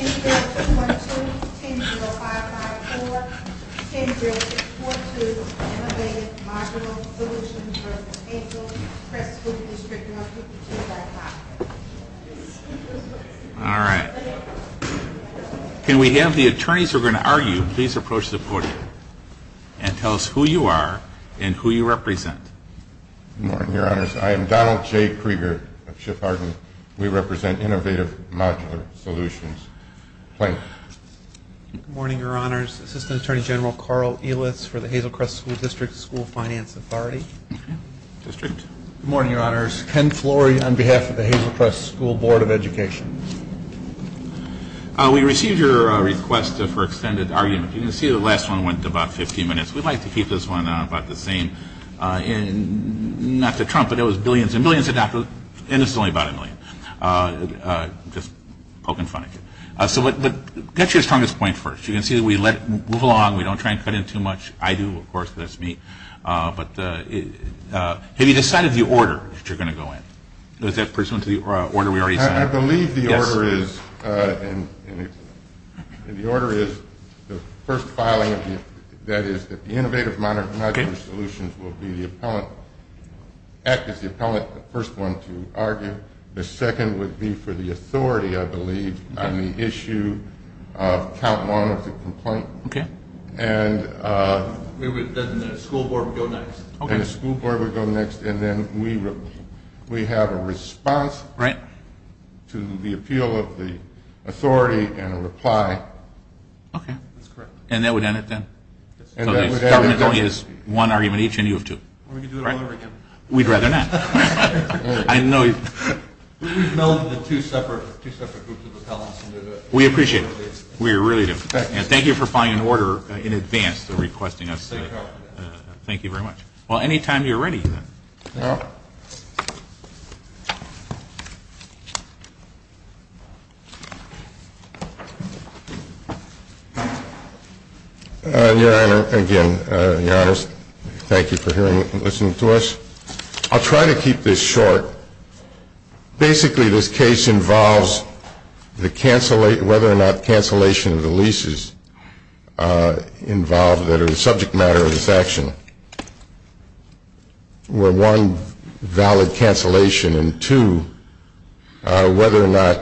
All right. Can we have the attorneys who are going to argue please approach the podium and tell us who you are and who you represent. Good morning, your honors. I am Donald J. Krieger of SHIP Arguments. We represent Innovative Modular Solutions. Good morning, your honors. Assistant Attorney General Carl Ehlitz for the Hazel Crest School District School Finance Authority. Good morning, your honors. Ken Flory on behalf of the Hazel Crest School Board of Education. We received your request for extended argument. You can see the last one went to about 15 minutes. We'd like to keep this one about the same. And not to trump it, it was billions and billions of dollars. And it's only about a million. Just poking fun at you. So get your strongest point first. You can see that we move along. We don't try and cut in too much. I do, of course, because that's me. But have you decided the order that you're going to go in? Is that pursuant to the order we already signed? I believe the order is the first filing of the Innovative Modular Solutions will be the appellant. Act is the appellant, the first one to argue. The second would be for the authority, I believe, on the issue of count one of the complaint. And then the school board would go next. And then we have a response to the appeal of the authority and a reply. And that would end it then? Government only has one argument each and you have two. We could do it all over again. We'd rather not. We've melded the two separate groups of appellants. We appreciate it. We really do. Thank you for filing an order in advance to requesting us. Thank you very much. Well, any time you're ready. Your Honor, again, Your Honor, thank you for listening to us. I'll try to keep this short. Basically, this case involves whether or not cancellation of the leases involved that are the subject matter of this action were, one, valid cancellation, and two, whether or not,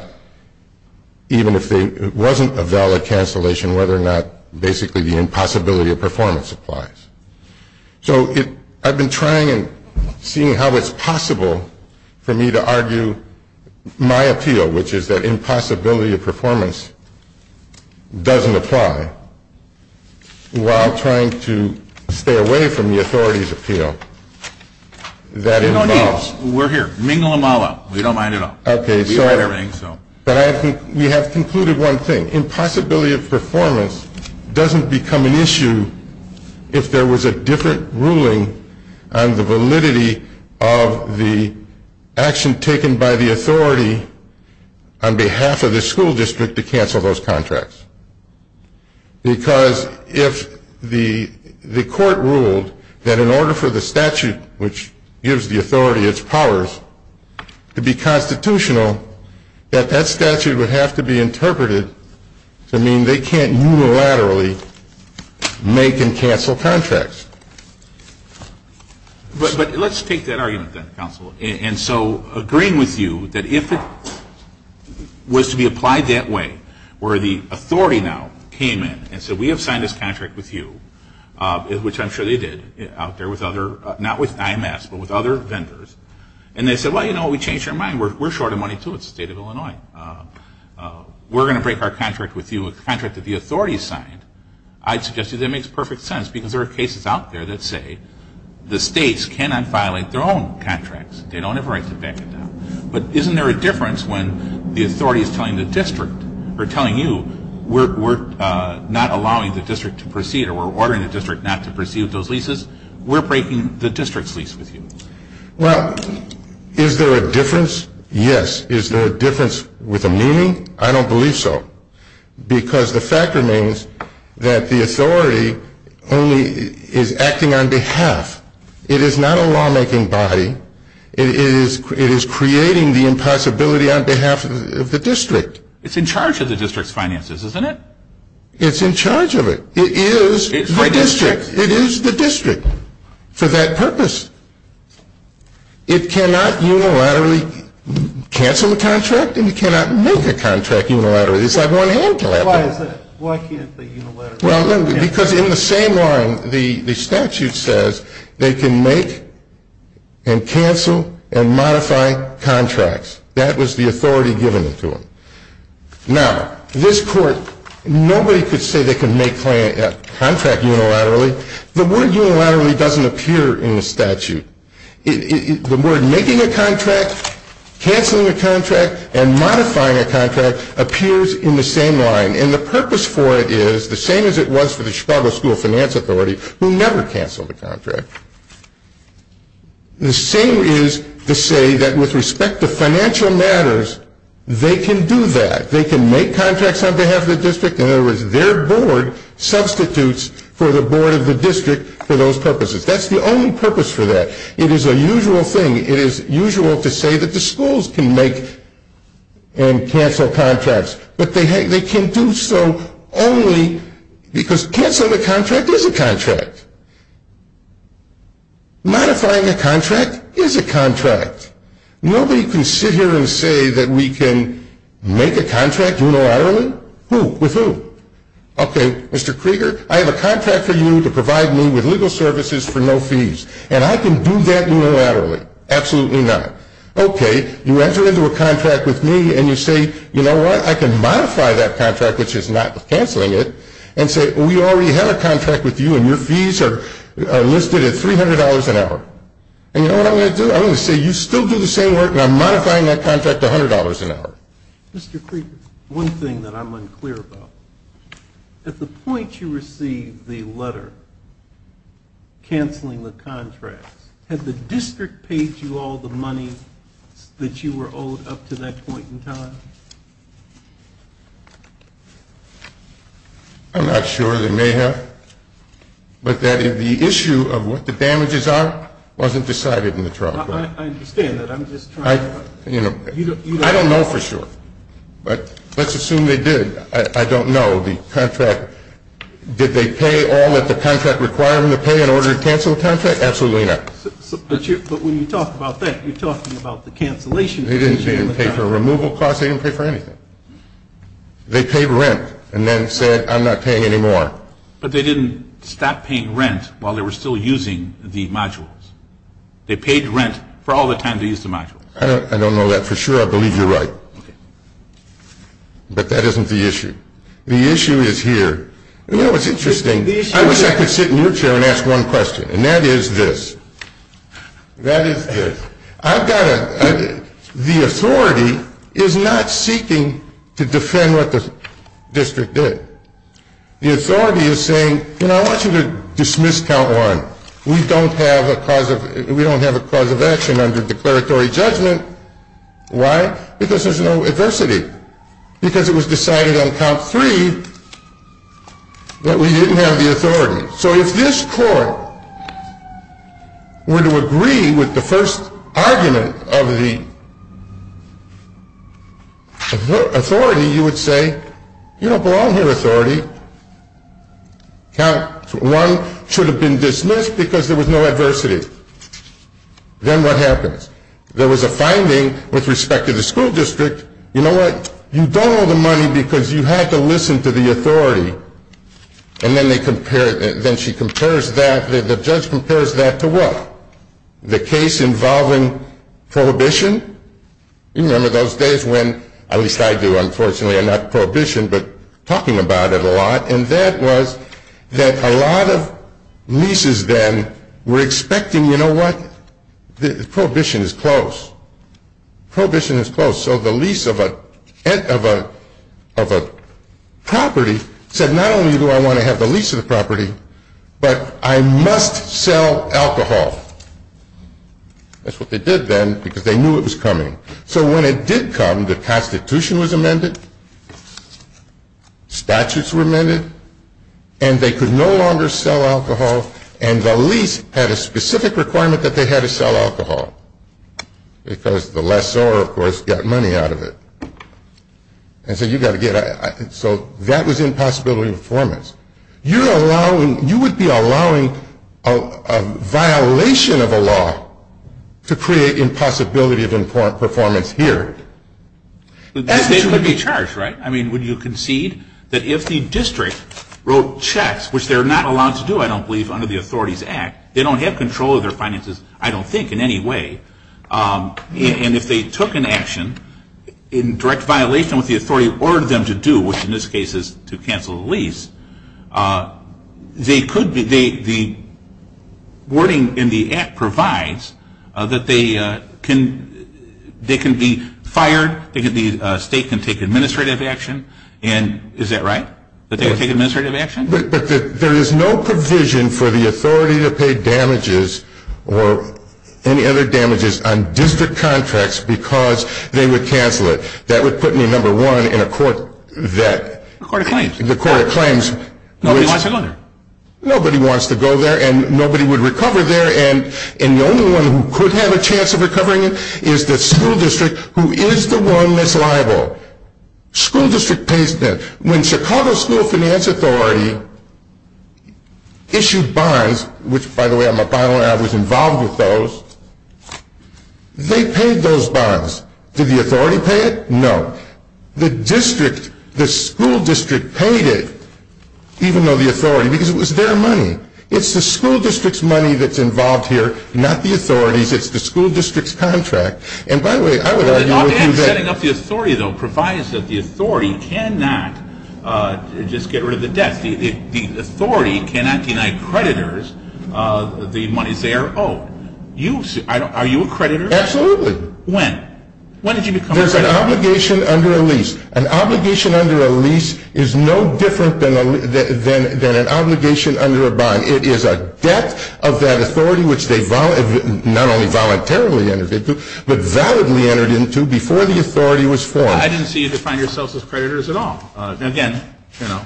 even if it wasn't a valid cancellation, whether or not basically the impossibility of performance applies. So I've been trying and seeing how it's possible for me to argue my appeal, which is that impossibility of performance doesn't apply, while trying to stay away from the authority's appeal. There's no need. We're here. Mingle them all up. We don't mind at all. Okay. But we have concluded one thing. The impossibility of performance doesn't become an issue if there was a different ruling on the validity of the action taken by the authority on behalf of the school district to cancel those contracts. Because if the court ruled that in order for the statute, which gives the authority its powers, to be constitutional, that that statute would have to be interpreted to mean they can't unilaterally make and cancel contracts. But let's take that argument, then, counsel. And so agreeing with you that if it was to be applied that way, where the authority now came in and said, we have signed this contract with you, which I'm sure they did out there with other, not with IMS, but with other vendors, and they said, well, you know, we changed our mind. We're short of money, too. It's the state of Illinois. We're going to break our contract with you, a contract that the authority signed. I'd suggest to you that makes perfect sense, because there are cases out there that say the states cannot violate their own contracts. They don't have a right to back it down. But isn't there a difference when the authority is telling the district, or telling you, we're not allowing the district to proceed or we're ordering the district not to proceed with those leases? We're breaking the district's lease with you. Well, is there a difference? Yes. Is there a difference with a meaning? I don't believe so. Because the fact remains that the authority only is acting on behalf. It is not a lawmaking body. It is creating the impossibility on behalf of the district. It's in charge of the district's finances, isn't it? It's in charge of it. It is the district. It is the district for that purpose. It cannot unilaterally cancel a contract, and it cannot make a contract unilaterally. It's like one-handed. Why is that? Why can't they unilaterally cancel? Because in the same line, the statute says they can make and cancel and modify contracts. That was the authority given to them. Now, this court, nobody could say they could make a contract unilaterally. The word unilaterally doesn't appear in the statute. The word making a contract, canceling a contract, and modifying a contract appears in the same line, and the purpose for it is the same as it was for the Chicago School of Finance Authority, who never canceled a contract. The same is to say that with respect to financial matters, they can do that. They can make contracts on behalf of the district. In other words, their board substitutes for the board of the district for those purposes. That's the only purpose for that. It is a usual thing. It is usual to say that the schools can make and cancel contracts, but they can do so only because canceling a contract is a contract. Modifying a contract is a contract. Nobody can sit here and say that we can make a contract unilaterally. Who? With who? Okay, Mr. Krieger, I have a contract for you to provide me with legal services for no fees, and I can do that unilaterally. Absolutely not. Okay, you enter into a contract with me, and you say, you know what? I can modify that contract, which is not canceling it, and say we already have a contract with you, and your fees are listed at $300 an hour. And you know what I'm going to do? I'm going to say you still do the same work, and I'm modifying that contract to $100 an hour. Mr. Krieger, one thing that I'm unclear about. At the point you receive the letter canceling the contracts, had the district paid you all the money that you were owed up to that point in time? I'm not sure. They may have. But the issue of what the damages are wasn't decided in the trial. I understand that. I don't know for sure. But let's assume they did. I don't know. Absolutely not. But when you talk about that, you're talking about the cancellation. They didn't pay for removal costs. They didn't pay for anything. They paid rent and then said, I'm not paying anymore. But they didn't stop paying rent while they were still using the modules. They paid rent for all the time they used the modules. I don't know that for sure. I believe you're right. Okay. But that isn't the issue. The issue is here. You know what's interesting? I wish I could sit in your chair and ask one question, and that is this. That is this. The authority is not seeking to defend what the district did. The authority is saying, you know, I want you to dismiss Count 1. We don't have a cause of action under declaratory judgment. Why? Because there's no adversity. Because it was decided on Count 3 that we didn't have the authority. So if this court were to agree with the first argument of the authority, you would say, you don't belong here, authority. Count 1 should have been dismissed because there was no adversity. Then what happens? There was a finding with respect to the school district. You know what? You don't owe the money because you had to listen to the authority. And then she compares that, the judge compares that to what? The case involving prohibition? You remember those days when, at least I do, unfortunately, I'm not prohibition, but talking about it a lot. And that was that a lot of nieces then were expecting, you know what? Prohibition is close. So the lease of a property said not only do I want to have the lease of the property, but I must sell alcohol. That's what they did then because they knew it was coming. So when it did come, the Constitution was amended, statutes were amended, and they could no longer sell alcohol, and the lease had a specific requirement that they had to sell alcohol because the lessor, of course, got money out of it. And so that was impossibility of performance. You would be allowing a violation of a law to create impossibility of performance here. They could be charged, right? I mean, would you concede that if the district wrote checks, which they're not allowed to do, I don't believe, under the Authorities Act, they don't have control of their finances, I don't think, in any way. And if they took an action in direct violation of what the authority ordered them to do, which in this case is to cancel the lease, the wording in the Act provides that they can be fired, the state can take administrative action. And is that right, that they can take administrative action? But there is no provision for the authority to pay damages or any other damages on district contracts because they would cancel it. That would put me number one in a court that... A court of claims. A court of claims. Nobody wants to go there. Nobody wants to go there, and nobody would recover there, and the only one who could have a chance of recovering it is the school district, who is the one that's liable. School district pays them. When Chicago School Finance Authority issued bonds, which, by the way, I'm a bond owner and I was involved with those, they paid those bonds. Did the authority pay it? No. The school district paid it, even though the authority, because it was their money. It's the school district's money that's involved here, not the authority's. It's the school district's contract. Setting up the authority, though, provides that the authority cannot just get rid of the debts. The authority cannot deny creditors the monies they are owed. Are you a creditor? Absolutely. When? When did you become a creditor? There's an obligation under a lease. An obligation under a lease is no different than an obligation under a bond. It is a debt of that authority, which they not only voluntarily entered into, but validly entered into before the authority was formed. I didn't see you define yourself as creditors at all. Again,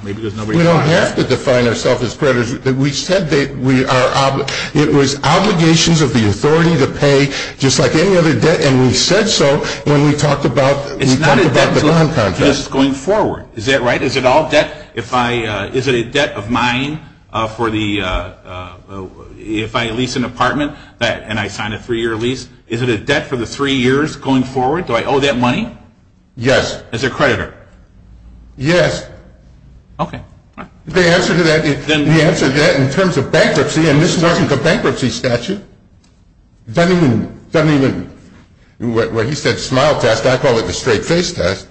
maybe there's no reason why. We don't have to define ourselves as creditors. We said it was obligations of the authority to pay, just like any other debt, and we said so when we talked about the bond contract. It's not a debt to us going forward. Is that right? Is it all debt? Is it a debt of mine if I lease an apartment and I sign a three-year lease? Is it a debt for the three years going forward? Do I owe that money? Yes. As a creditor? Yes. Okay. The answer to that, in terms of bankruptcy, and this wasn't the bankruptcy statute. It doesn't even, where he said smile test, I call it the straight face test.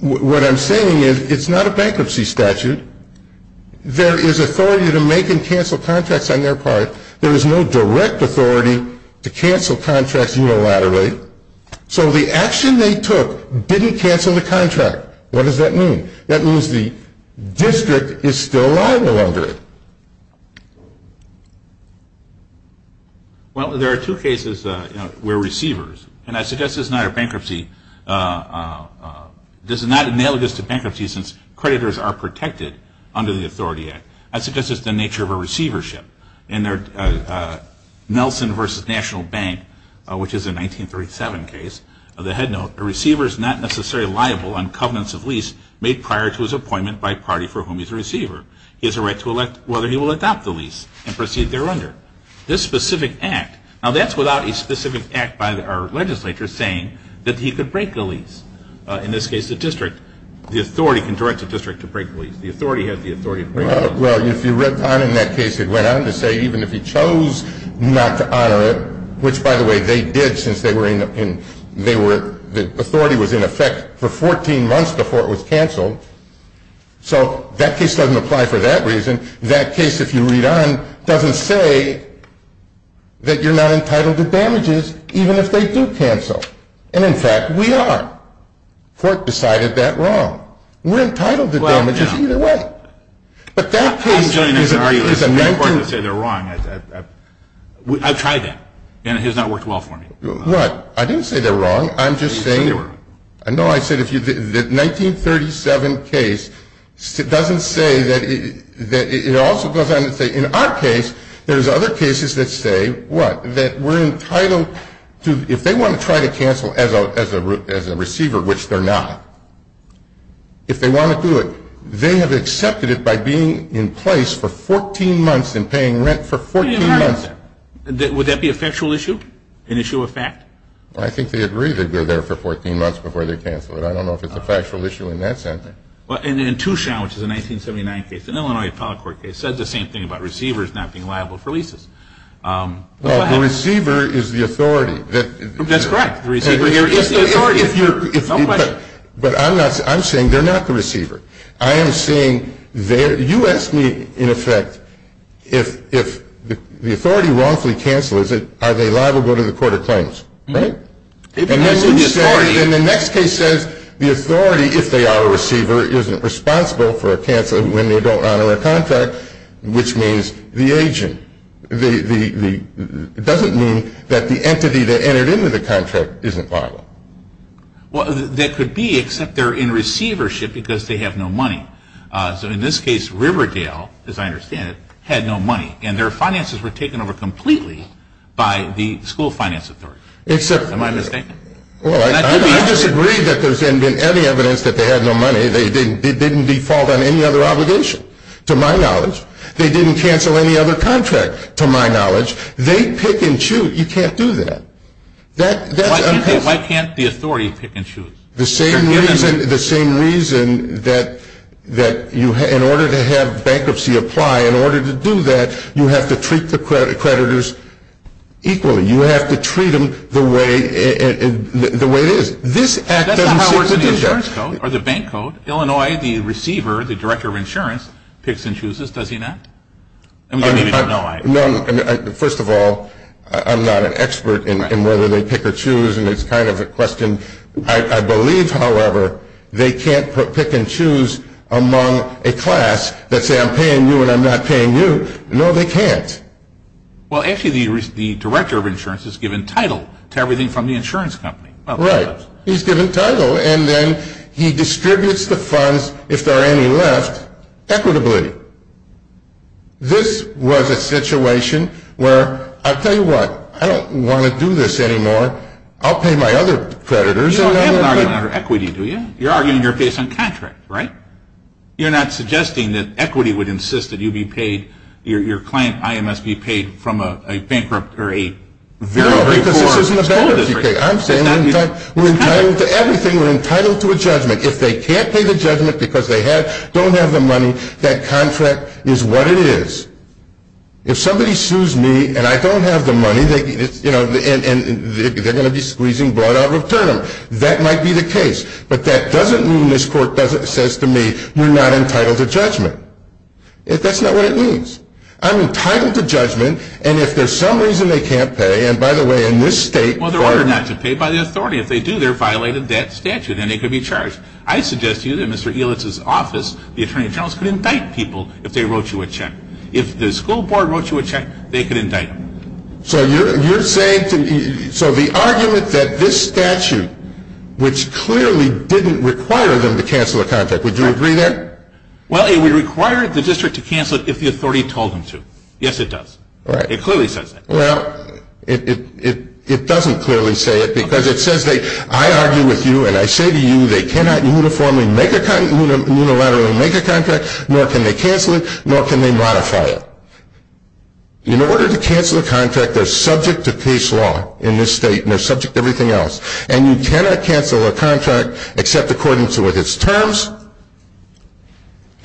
What I'm saying is it's not a bankruptcy statute. There is authority to make and cancel contracts on their part. There is no direct authority to cancel contracts unilaterally. So the action they took didn't cancel the contract. What does that mean? That means the district is still liable under it. Well, there are two cases where receivers, and I suggest this is not a bankruptcy, this is not analogous to bankruptcy since creditors are protected under the Authority Act. I suggest it's the nature of a receivership. In Nelson v. National Bank, which is a 1937 case, the headnote, a receiver is not necessarily liable on covenants of lease made prior to his appointment by a party for whom he is a receiver. He has a right to elect whether he will adopt the lease and proceed thereunder. This specific act, now that's without a specific act by our legislature saying that he could break the lease. In this case, the district, the authority can direct the district to break the lease. The authority has the authority to break the lease. Well, if you read on in that case, it went on to say even if he chose not to honor it, which, by the way, they did since they were in the, they were, the authority was in effect for 14 months before it was canceled. So that case doesn't apply for that reason. That case, if you read on, doesn't say that you're not entitled to damages even if they do cancel. And, in fact, we are. Fork decided that wrong. We're entitled to damages either way. But that case is a negative. It's important to say they're wrong. I've tried that. And it has not worked well for me. What? I didn't say they're wrong. I'm just saying. No, I said if you, the 1937 case, it doesn't say that, it also goes on to say in our case, there's other cases that say what? That we're entitled to, if they want to try to cancel as a receiver, which they're not, if they want to do it, they have accepted it by being in place for 14 months and paying rent for 14 months. Would that be a factual issue? An issue of fact? I think they agree that they're there for 14 months before they cancel it. I don't know if it's a factual issue in that sense. Well, and in Touchant, which is a 1979 case, an Illinois appellate court case, says the same thing about receivers not being liable for leases. Well, the receiver is the authority. That's correct. The receiver is the authority. But I'm saying they're not the receiver. I am saying they're, you asked me, in effect, if the authority wrongfully cancels, are they liable to go to the court of claims. Right? And then the next case says the authority, if they are a receiver, isn't responsible for a cancel when they don't honor a contract, which means the agent. It doesn't mean that the entity that entered into the contract isn't liable. Well, that could be, except they're in receivership because they have no money. So in this case, Riverdale, as I understand it, had no money, and their finances were taken over completely by the school finance authority. Am I mistaken? Well, I disagree that there's been any evidence that they had no money. They didn't default on any other obligation, to my knowledge. They didn't cancel any other contract, to my knowledge. They pick and choose. You can't do that. Why can't the authority pick and choose? The same reason that in order to have bankruptcy apply, in order to do that, you have to treat the creditors equally. You have to treat them the way it is. That's not how it works in the insurance code or the bank code. Illinois, the receiver, the director of insurance, picks and chooses, does he not? First of all, I'm not an expert in whether they pick or choose, and it's kind of a question. I believe, however, they can't pick and choose among a class that say I'm paying you and I'm not paying you. No, they can't. Well, actually, the director of insurance is given title to everything from the insurance company. Right. He's given title, and then he distributes the funds, if there are any left, equitably. This was a situation where, I'll tell you what, I don't want to do this anymore. I'll pay my other creditors. You don't have an argument under equity, do you? You're arguing you're based on contract, right? You're not suggesting that equity would insist that you be paid, your client, IMS, be paid from a bankrupt or a very poor. No, because this isn't about equity. I'm saying we're entitled to everything. We're entitled to a judgment. If they can't pay the judgment because they don't have the money, that contract is what it is. If somebody sues me and I don't have the money, and they're going to be squeezing blood out of a term, that might be the case. But that doesn't mean this court says to me, we're not entitled to judgment. That's not what it means. I'm entitled to judgment, and if there's some reason they can't pay, and by the way, in this state. Well, they're ordered not to pay by the authority. If they do, they're violating that statute, and they could be charged. I suggest to you that Mr. Elitz's office, the attorney general's, could indict people if they wrote you a check. If the school board wrote you a check, they could indict them. So the argument that this statute, which clearly didn't require them to cancel a contract, would you agree there? Well, it would require the district to cancel it if the authority told them to. Yes, it does. It clearly says that. Well, it doesn't clearly say it, because it says I argue with you, and I say to you, they cannot unilaterally make a contract, nor can they cancel it, nor can they modify it. In order to cancel a contract, they're subject to case law in this state, and they're subject to everything else. And you cannot cancel a contract except according to its terms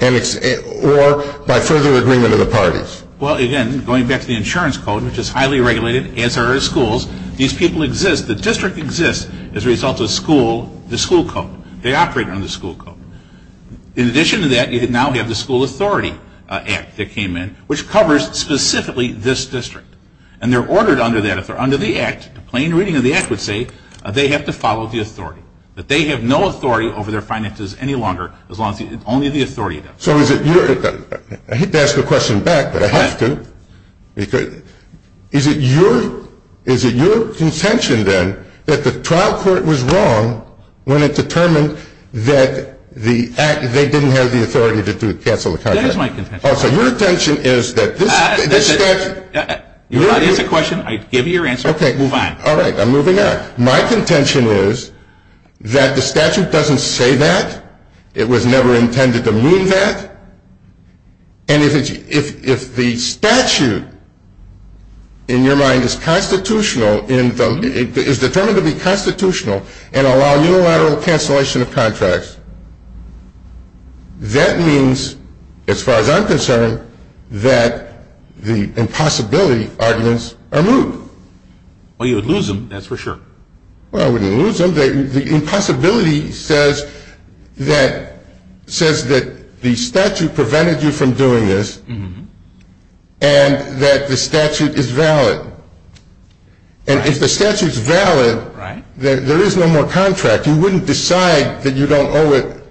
or by further agreement of the parties. Well, again, going back to the insurance code, which is highly regulated, as are our schools, these people exist. The district exists as a result of the school code. They operate under the school code. In addition to that, you now have the School Authority Act that came in, which covers specifically this district. And they're ordered under that. If they're under the Act, a plain reading of the Act would say they have to follow the authority. But they have no authority over their finances any longer as long as only the authority does. So is it your – I hate to ask the question back, but I have to. Go ahead. Is it your contention, then, that the trial court was wrong when it determined that they didn't have the authority to cancel the contract? That is my contention. Oh, so your contention is that this statute – You're allowed to ask a question. I give you your answer. Okay. Fine. All right. I'm moving on. My contention is that the statute doesn't say that. It was never intended to mean that. And if the statute, in your mind, is constitutional – is determined to be constitutional and allow unilateral cancellation of contracts, that means, as far as I'm concerned, that the impossibility arguments are moved. Well, you would lose them, that's for sure. Well, I wouldn't lose them. The impossibility says that the statute prevented you from doing this and that the statute is valid. And if the statute is valid, there is no more contract. You wouldn't decide that you don't owe it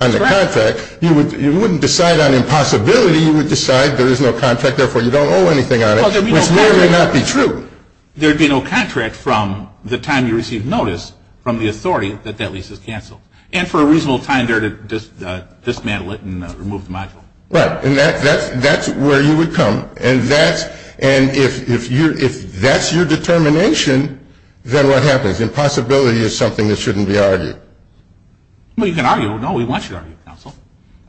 on the contract. You wouldn't decide on impossibility. You would decide there is no contract, therefore you don't owe anything on it, which may or may not be true. There would be no contract from the time you receive notice from the authority that that lease is canceled. And for a reasonable time there to dismantle it and remove the module. Right. And that's where you would come. And if that's your determination, then what happens? Impossibility is something that shouldn't be argued. Well, you can argue. No, we want you to argue, counsel.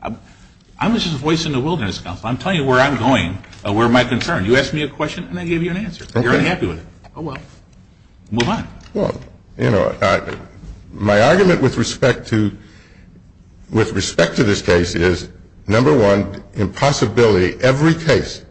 I'm just a voice in the wilderness, counsel. I'm telling you where I'm going, where my concern. You ask me a question and I give you an answer. Okay. You're unhappy with it. Oh, well. Move on. Well, you know, my argument with respect to this case is, number one, impossibility. Every case,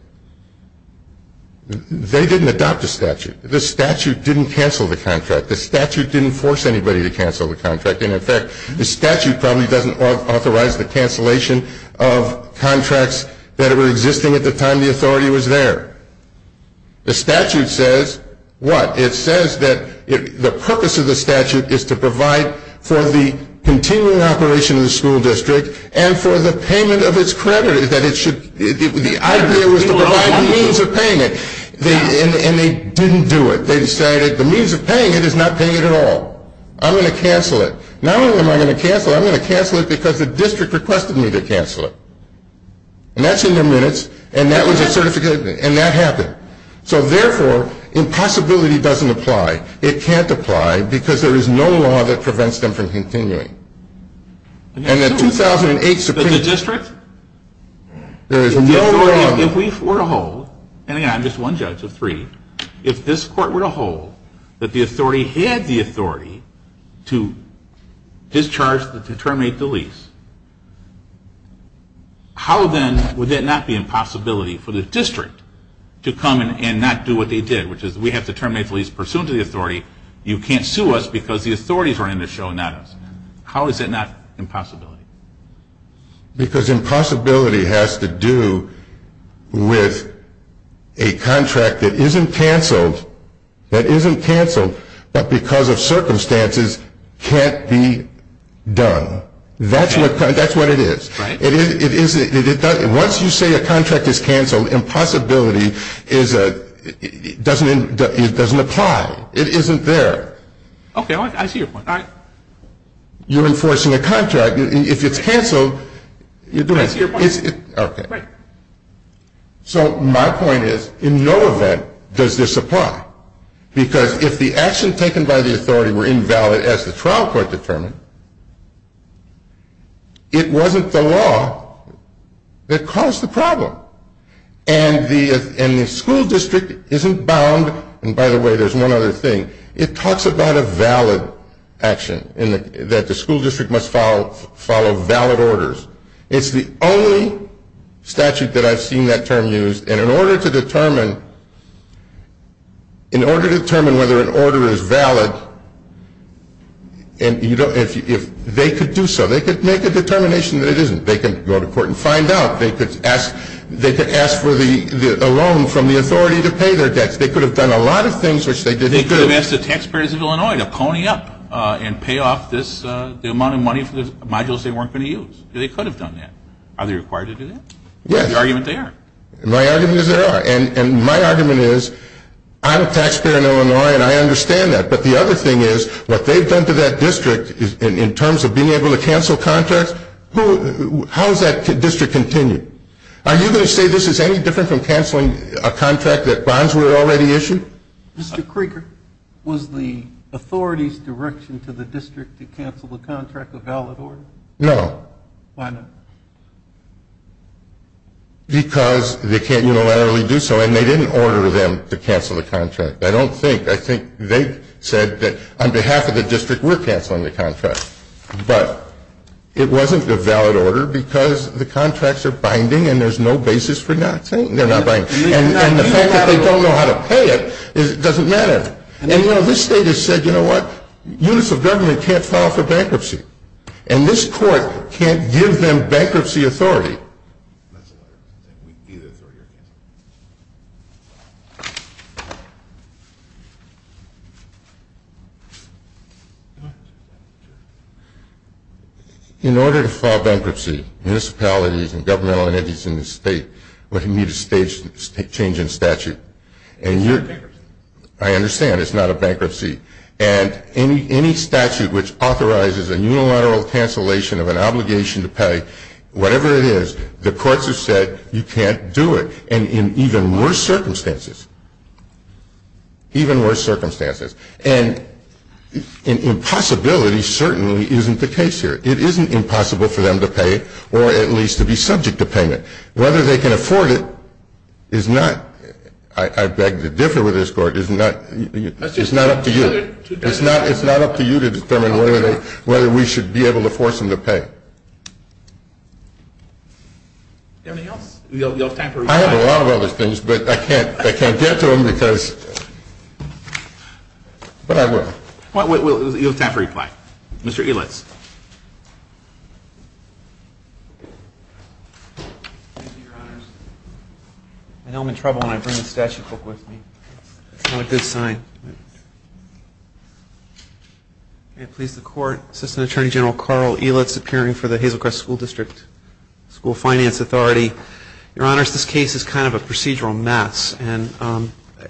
they didn't adopt a statute. The statute didn't cancel the contract. The statute didn't force anybody to cancel the contract. And in fact, the statute probably doesn't authorize the cancellation of contracts that were existing at the time the authority was there. The statute says what? It says that the purpose of the statute is to provide for the continuing operation of the school district and for the payment of its credit. The idea was to provide the means of payment. And they didn't do it. They decided the means of paying it is not paying it at all. I'm going to cancel it. Not only am I going to cancel it, but I'm going to cancel it because the district requested me to cancel it. And that's in their minutes. And that was a certificate. And that happened. So, therefore, impossibility doesn't apply. It can't apply because there is no law that prevents them from continuing. And the 2008 Supreme Court. But the district? There is no law. If we were to hold, and again, I'm just one judge of three, if this court were to hold that the authority had the authority to discharge, to terminate the lease, how then would that not be impossibility for the district to come and not do what they did, which is we have to terminate the lease pursuant to the authority. You can't sue us because the authorities are in the show, not us. How is that not impossibility? Because impossibility has to do with a contract that isn't canceled, but because of circumstances can't be done. That's what it is. Once you say a contract is canceled, impossibility doesn't apply. It isn't there. Okay. I see your point. You're enforcing a contract. If it's canceled, you're doing it. I see your point. Okay. Right. So my point is, in no event does this apply, because if the action taken by the authority were invalid as the trial court determined, it wasn't the law that caused the problem. And the school district isn't bound. And, by the way, there's one other thing. It talks about a valid action, that the school district must follow valid orders. It's the only statute that I've seen that term used. And in order to determine whether an order is valid, if they could do so, they could make a determination that it isn't. They could go to court and find out. They could ask for a loan from the authority to pay their debts. They could have done a lot of things, which they didn't do. They could have asked the taxpayers of Illinois to pony up and pay off the amount of money for the modules they weren't going to use. They could have done that. Are they required to do that? Yes. The argument there. My argument is there are. And my argument is, I'm a taxpayer in Illinois, and I understand that. But the other thing is, what they've done to that district, in terms of being able to cancel contracts, how has that district continued? Are you going to say this is any different from canceling a contract that bonds were already issued? Mr. Krieger, was the authority's direction to the district to cancel the contract a valid order? No. Why not? Because they can't unilaterally do so. And they didn't order them to cancel the contract. I don't think. I think they said that on behalf of the district, we're canceling the contract. But it wasn't a valid order because the contracts are binding, and there's no basis for not saying they're not binding. And the fact that they don't know how to pay it doesn't matter. And, you know, this state has said, you know what, units of government can't file for bankruptcy. And this court can't give them bankruptcy authority. In order to file bankruptcy, municipalities and governmental entities in the state would need a change in statute. It's not bankruptcy. I understand. It's not a bankruptcy. And any statute which authorizes a unilateral cancellation of an obligation to pay, whatever it is, the courts have said you can't do it, and in even worse circumstances. Even worse circumstances. And an impossibility certainly isn't the case here. It isn't impossible for them to pay or at least to be subject to payment. Whether they can afford it is not, I beg to differ with this court, is not up to you. It's not up to you to determine whether we should be able to force them to pay. Anything else? You'll have time for reply. I have a lot of other things, but I can't get to them because, but I will. You'll have time for reply. Mr. Elitz. I know I'm in trouble when I bring the statute book with me. It's not a good sign. May it please the court, Assistant Attorney General Carl Elitz, appearing for the Hazelcrest School District, School Finance Authority. Your Honors, this case is kind of a procedural mess. And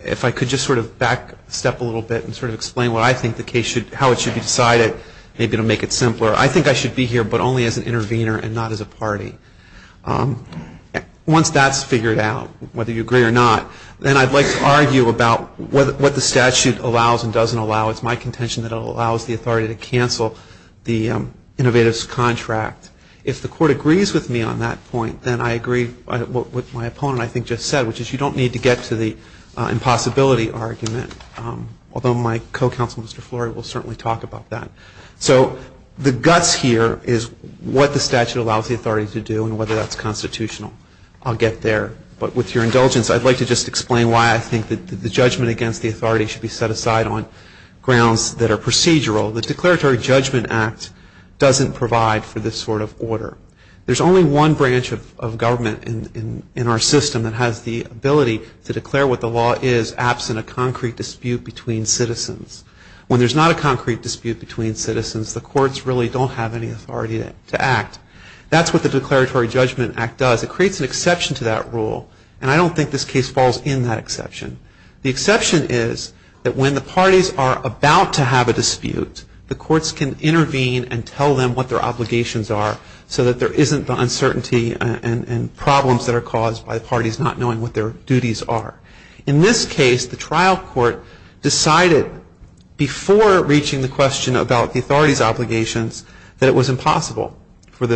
if I could just sort of back step a little bit and sort of explain what I think the case should, how it should be decided, maybe it will make it simpler. I think I should be here but only as an intervener and not as a party. Once that's figured out, whether you agree or not, then I'd like to argue about what the statute allows and doesn't allow. It's my contention that it allows the authority to cancel the innovators' contract. If the court agrees with me on that point, then I agree with what my opponent I think just said, which is you don't need to get to the impossibility argument, although my co-counsel, Mr. Flory, will certainly talk about that. So the guts here is what the statute allows the authority to do and whether that's constitutional. I'll get there. But with your indulgence, I'd like to just explain why I think that the judgment against the authority should be set aside on grounds that are procedural. The Declaratory Judgment Act doesn't provide for this sort of order. There's only one branch of government in our system that has the ability to declare what the law is absent a concrete dispute between citizens. When there's not a concrete dispute between citizens, the courts really don't have any authority to act. That's what the Declaratory Judgment Act does. It creates an exception to that rule, and I don't think this case falls in that exception. The courts can intervene and tell them what their obligations are so that there isn't the uncertainty and problems that are caused by parties not knowing what their duties are. In this case, the trial court decided before reaching the question about the authority's obligations that it was impossible for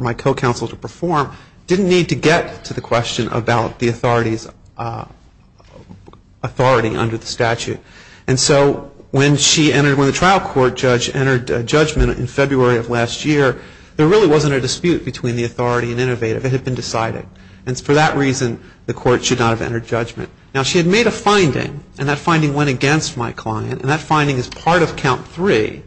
my co-counsel to perform, didn't need to get to the question about the authority under the statute. And so when she entered, when the trial court judge entered judgment in February of last year, there really wasn't a dispute between the authority and innovative. It had been decided. And for that reason, the court should not have entered judgment. Now, she had made a finding, and that finding went against my client, and that finding is part of count three.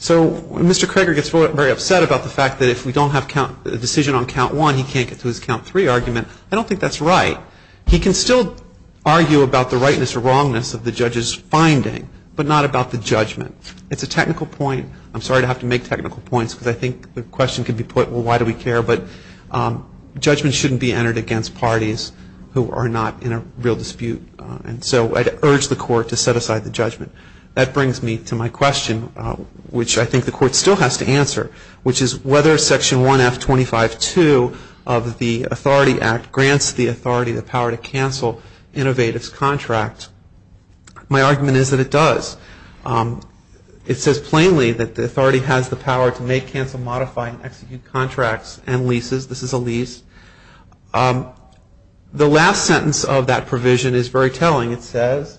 So Mr. Kroeger gets very upset about the fact that if we don't have a decision on count one, he can't get to his count three argument. I don't think that's right. He can still argue about the rightness or wrongness of the judge's finding, but not about the judgment. It's a technical point. I'm sorry to have to make technical points because I think the question could be put, well, why do we care? But judgment shouldn't be entered against parties who are not in a real dispute. And so I'd urge the court to set aside the judgment. That brings me to my question, which I think the court still has to answer, which is whether Section 1F25.2 of the Authority Act grants the authority the power to cancel innovative's contract. My argument is that it does. It says plainly that the authority has the power to make, cancel, modify, and execute contracts and leases. This is a lease. The last sentence of that provision is very telling. It says,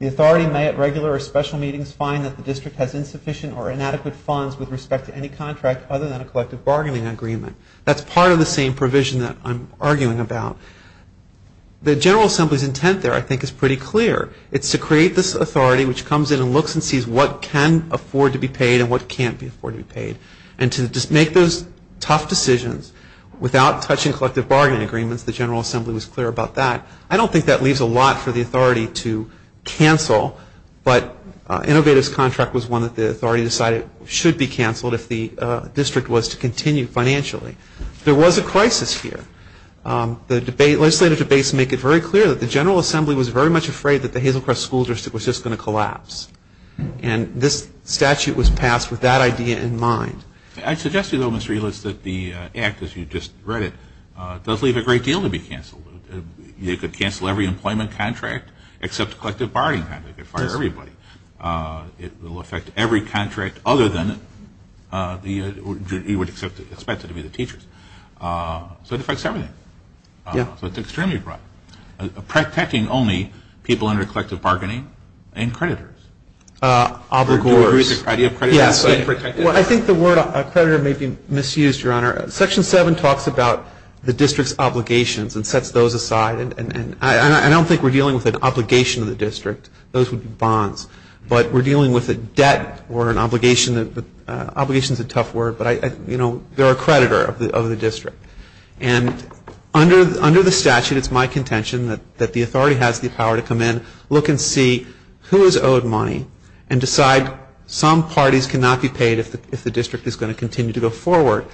the authority may, at regular or special meetings, find that the district has insufficient or inadequate funds with respect to any contract other than a collective bargaining agreement. That's part of the same provision that I'm arguing about. The General Assembly's intent there, I think, is pretty clear. It's to create this authority which comes in and looks and sees what can afford to be paid and what can't afford to be paid. And to make those tough decisions without touching collective bargaining agreements, the General Assembly was clear about that. I don't think that leaves a lot for the authority to cancel, but innovative's contract was one that the authority decided should be canceled if the district was to continue financially. There was a crisis here. The legislative debates make it very clear that the General Assembly was very much afraid that the Hazelcrest School District was just going to collapse. And this statute was passed with that idea in mind. I suggest to you, though, Mr. Ehlers, that the Act, as you just read it, does leave a great deal to be canceled. It could cancel every employment contract except collective bargaining contracts. It could fire everybody. It will affect every contract other than you would expect it to be the teachers. So it affects everything. So it's extremely broad. Protecting only people under collective bargaining and creditors. Obligors. Do you agree with the idea of creditors? I think the word creditor may be misused, Your Honor. Section 7 talks about the district's obligations and sets those aside. I don't think we're dealing with an obligation to the district. Those would be bonds. But we're dealing with a debt or an obligation. Obligation's a tough word, but they're a creditor of the district. And under the statute, it's my contention that the authority has the power to come in, look and see who is owed money, and decide some parties cannot be paid if the district is going to continue to go forward.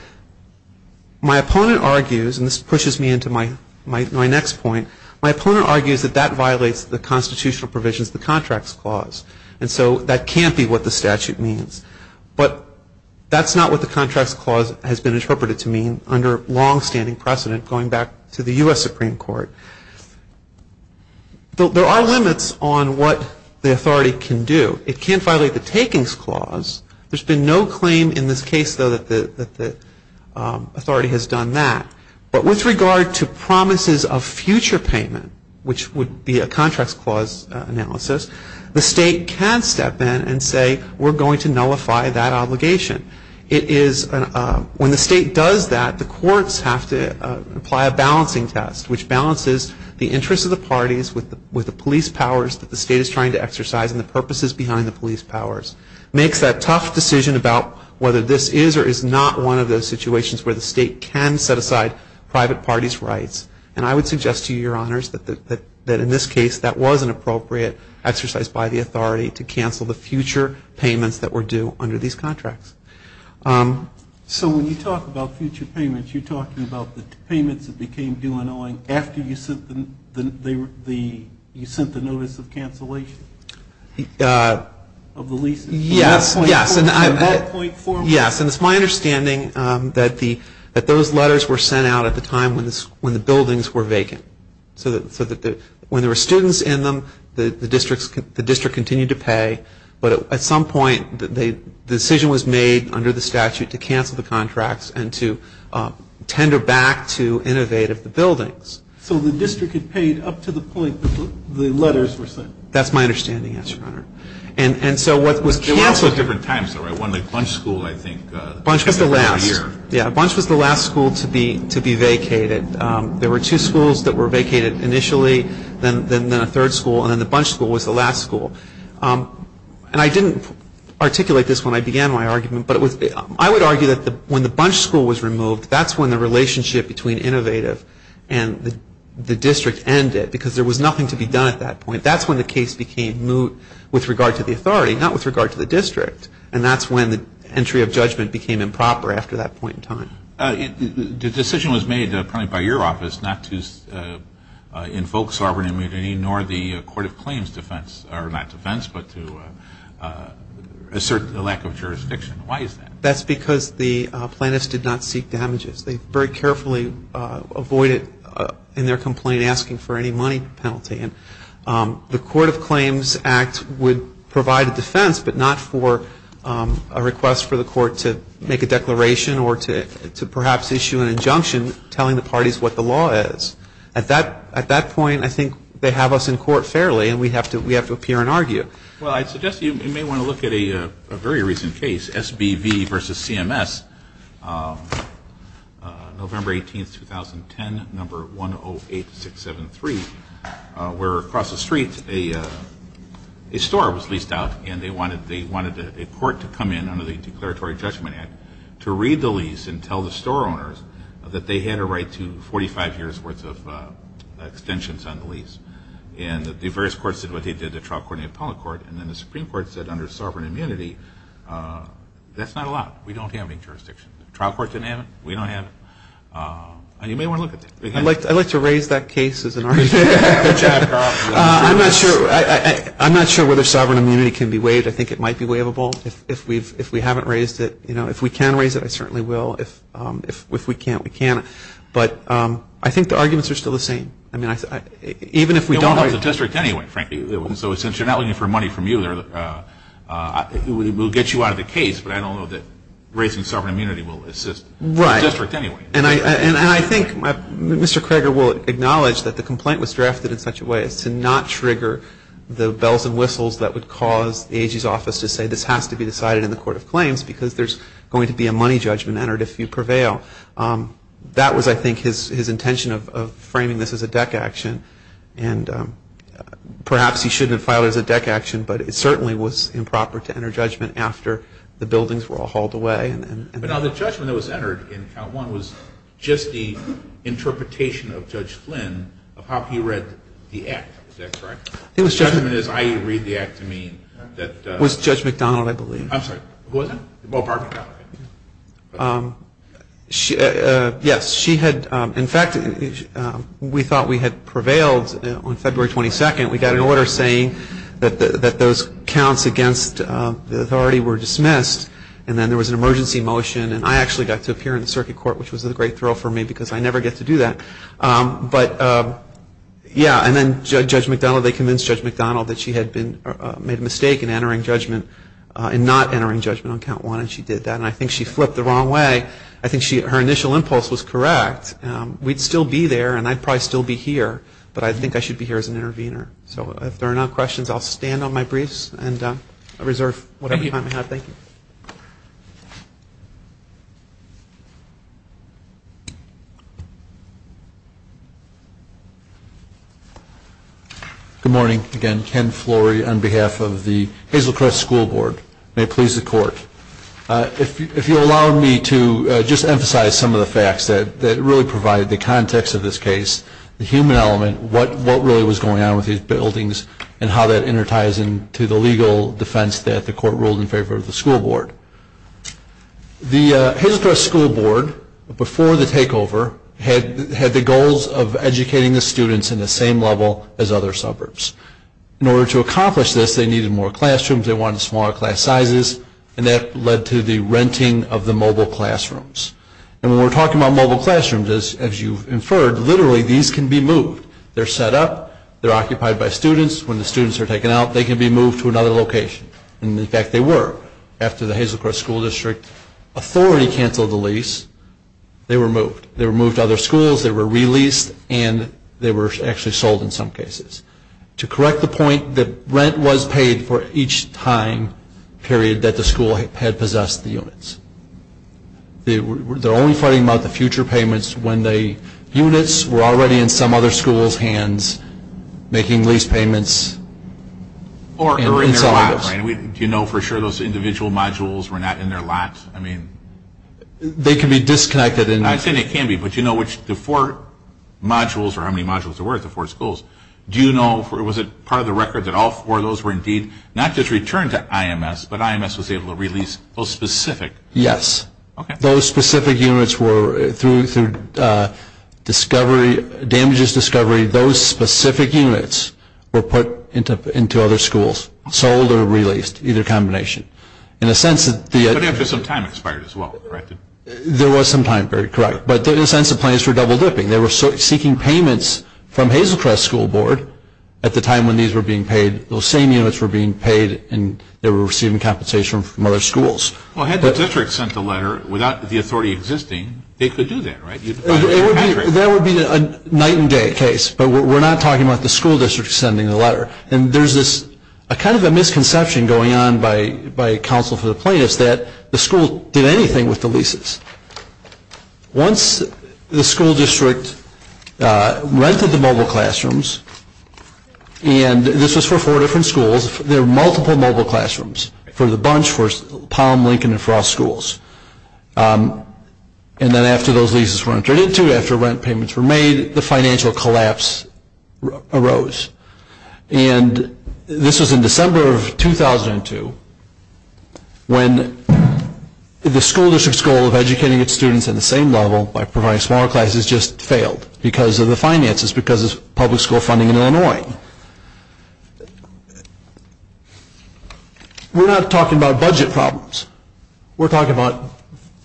My opponent argues, and this pushes me into my next point, my opponent argues that that violates the constitutional provisions of the Contracts Clause. And so that can't be what the statute means. But that's not what the Contracts Clause has been interpreted to mean under longstanding precedent going back to the U.S. Supreme Court. There are limits on what the authority can do. It can't violate the Takings Clause. There's been no claim in this case, though, that the authority has done that. But with regard to promises of future payment, which would be a Contracts Clause analysis, the state can step in and say, we're going to nullify that obligation. When the state does that, the courts have to apply a balancing test, which balances the interests of the parties with the police powers that the state is trying to exercise and the purposes behind the police powers. Makes that tough decision about whether this is or is not one of those situations where the state can set aside private parties' rights. And I would suggest to you, Your Honors, that in this case, that was an appropriate exercise by the authority to cancel the future payments that were due under these contracts. So when you talk about future payments, you're talking about the payments that became due in Owing after you sent the notice of cancellation of the leases? Yes, and it's my understanding that those letters were sent out at the time when the buildings were vacant. So when there were students in them, the district continued to pay. But at some point, the decision was made under the statute to cancel the contracts and to tender back to innovate of the buildings. So the district had paid up to the point that the letters were sent? That's my understanding, yes, Your Honor. There were also different times, though, right? One like Bunch School, I think. Bunch was the last. Yeah, Bunch was the last school to be vacated. There were two schools that were vacated initially, then a third school, and then the Bunch School was the last school. And I didn't articulate this when I began my argument, but I would argue that when the Bunch School was removed, that's when the relationship between innovative and the district ended because there was nothing to be done at that point. That's when the case became moot with regard to the authority, not with regard to the district. And that's when the entry of judgment became improper after that point in time. The decision was made primarily by your office not to invoke sovereign immunity nor the Court of Claims defense, or not defense but to assert the lack of jurisdiction. Why is that? That's because the plaintiffs did not seek damages. They very carefully avoided in their complaint asking for any money penalty. And the Court of Claims Act would provide a defense but not for a request for the court to make a declaration or to perhaps issue an injunction telling the parties what the law is. At that point, I think they have us in court fairly and we have to appear and argue. Well, I suggest you may want to look at a very recent case, SBV v. CMS, November 18, 2010, number 108673, where across the street a store was leased out and they wanted a court to come in under the Declaratory Judgment Act to read the lease and tell the store owners that they had a right to 45 years' worth of extensions on the lease. And the various courts did what they did, the trial court and the appellate court, and then the Supreme Court said under sovereign immunity that's not allowed. We don't have any jurisdiction. The trial court didn't have it. We don't have it. And you may want to look at that. I'd like to raise that case as an argument. I'm not sure whether sovereign immunity can be waived. I think it might be waivable if we haven't raised it. If we can raise it, I certainly will. If we can't, we can't. But I think the arguments are still the same. I mean, even if we don't raise it. You don't have the district anyway, frankly. So since you're not looking for money from you, we'll get you out of the case, but I don't know that raising sovereign immunity will assist the district anyway. Right. And I think Mr. Krager will acknowledge that the complaint was drafted in such a way as to not trigger the bells and whistles that would cause the AG's office to say this has to be decided in the Court of Claims because there's going to be a money judgment entered if you prevail. That was, I think, his intention of framing this as a deck action. And perhaps he shouldn't have filed it as a deck action, but it certainly was improper to enter judgment after the buildings were all hauled away. But now the judgment that was entered in count one was just the interpretation of Judge Flynn of how he read the act. Is that correct? The judgment is how you read the act to mean that the – It was Judge McDonald, I believe. I'm sorry, who was it? Oh, pardon me. Yes, she had – in fact, we thought we had prevailed on February 22nd. We got an order saying that those counts against the authority were dismissed, and then there was an emergency motion, and I actually got to appear in the circuit court, which was a great thrill for me because I never get to do that. But yeah, and then Judge McDonald, they convinced Judge McDonald that she had made a mistake in entering judgment and not entering judgment on count one, and she did that. And I think she flipped the wrong way. I think her initial impulse was correct. We'd still be there, and I'd probably still be here, but I think I should be here as an intervener. So if there are no questions, I'll stand on my briefs and reserve whatever time I have. Thank you. Good morning. Again, Ken Flory on behalf of the Hazel Crest School Board. May it please the Court. If you'll allow me to just emphasize some of the facts that really provide the context of this case, the human element, what really was going on with these buildings and how that interties into the legal defense that the Court ruled in favor of the school board. The Hazel Crest School Board, before the takeover, had the goals of educating the students in the same level as other suburbs. In order to accomplish this, they needed more classrooms, they wanted smaller class sizes, and that led to the renting of the mobile classrooms. And when we're talking about mobile classrooms, as you've inferred, literally these can be moved. They're set up, they're occupied by students. When the students are taken out, they can be moved to another location. And in fact, they were. After the Hazel Crest School District Authority canceled the lease, they were moved. They were moved to other schools, they were re-leased, and they were actually sold in some cases. To correct the point, the rent was paid for each time period that the school had possessed the units. They're only fighting about the future payments when the units were already in some other school's hands making lease payments. Or in their lot, right? Do you know for sure those individual modules were not in their lot? They can be disconnected. I understand they can be, but do you know which the four modules, or how many modules there were at the four schools, was it part of the record that all four of those were indeed not just returned to IMS, but IMS was able to release those specific? Yes. Okay. Those specific units were through discovery, damages discovery, those specific units were put into other schools, sold or released, either combination. But after some time expired as well, correct? There was some time period, correct. But in a sense, the plans were double dipping. They were seeking payments from Hazel Crest School Board at the time when these were being paid. Those same units were being paid and they were receiving compensation from other schools. Well, had the district sent the letter without the authority existing, they could do that, right? That would be a night and day case, but we're not talking about the school district sending the letter. And there's this kind of a misconception going on by counsel for the plaintiffs that the school did anything with the leases. Once the school district rented the mobile classrooms, and this was for four different schools, there were multiple mobile classrooms for the bunch, for Palm, Lincoln, and Frost schools. And then after those leases were entered into, after rent payments were made, the financial collapse arose. And this was in December of 2002 when the school district's goal of educating its students at the same level by providing smaller classes just failed because of the finances, because of public school funding in Illinois. We're not talking about budget problems. We're talking about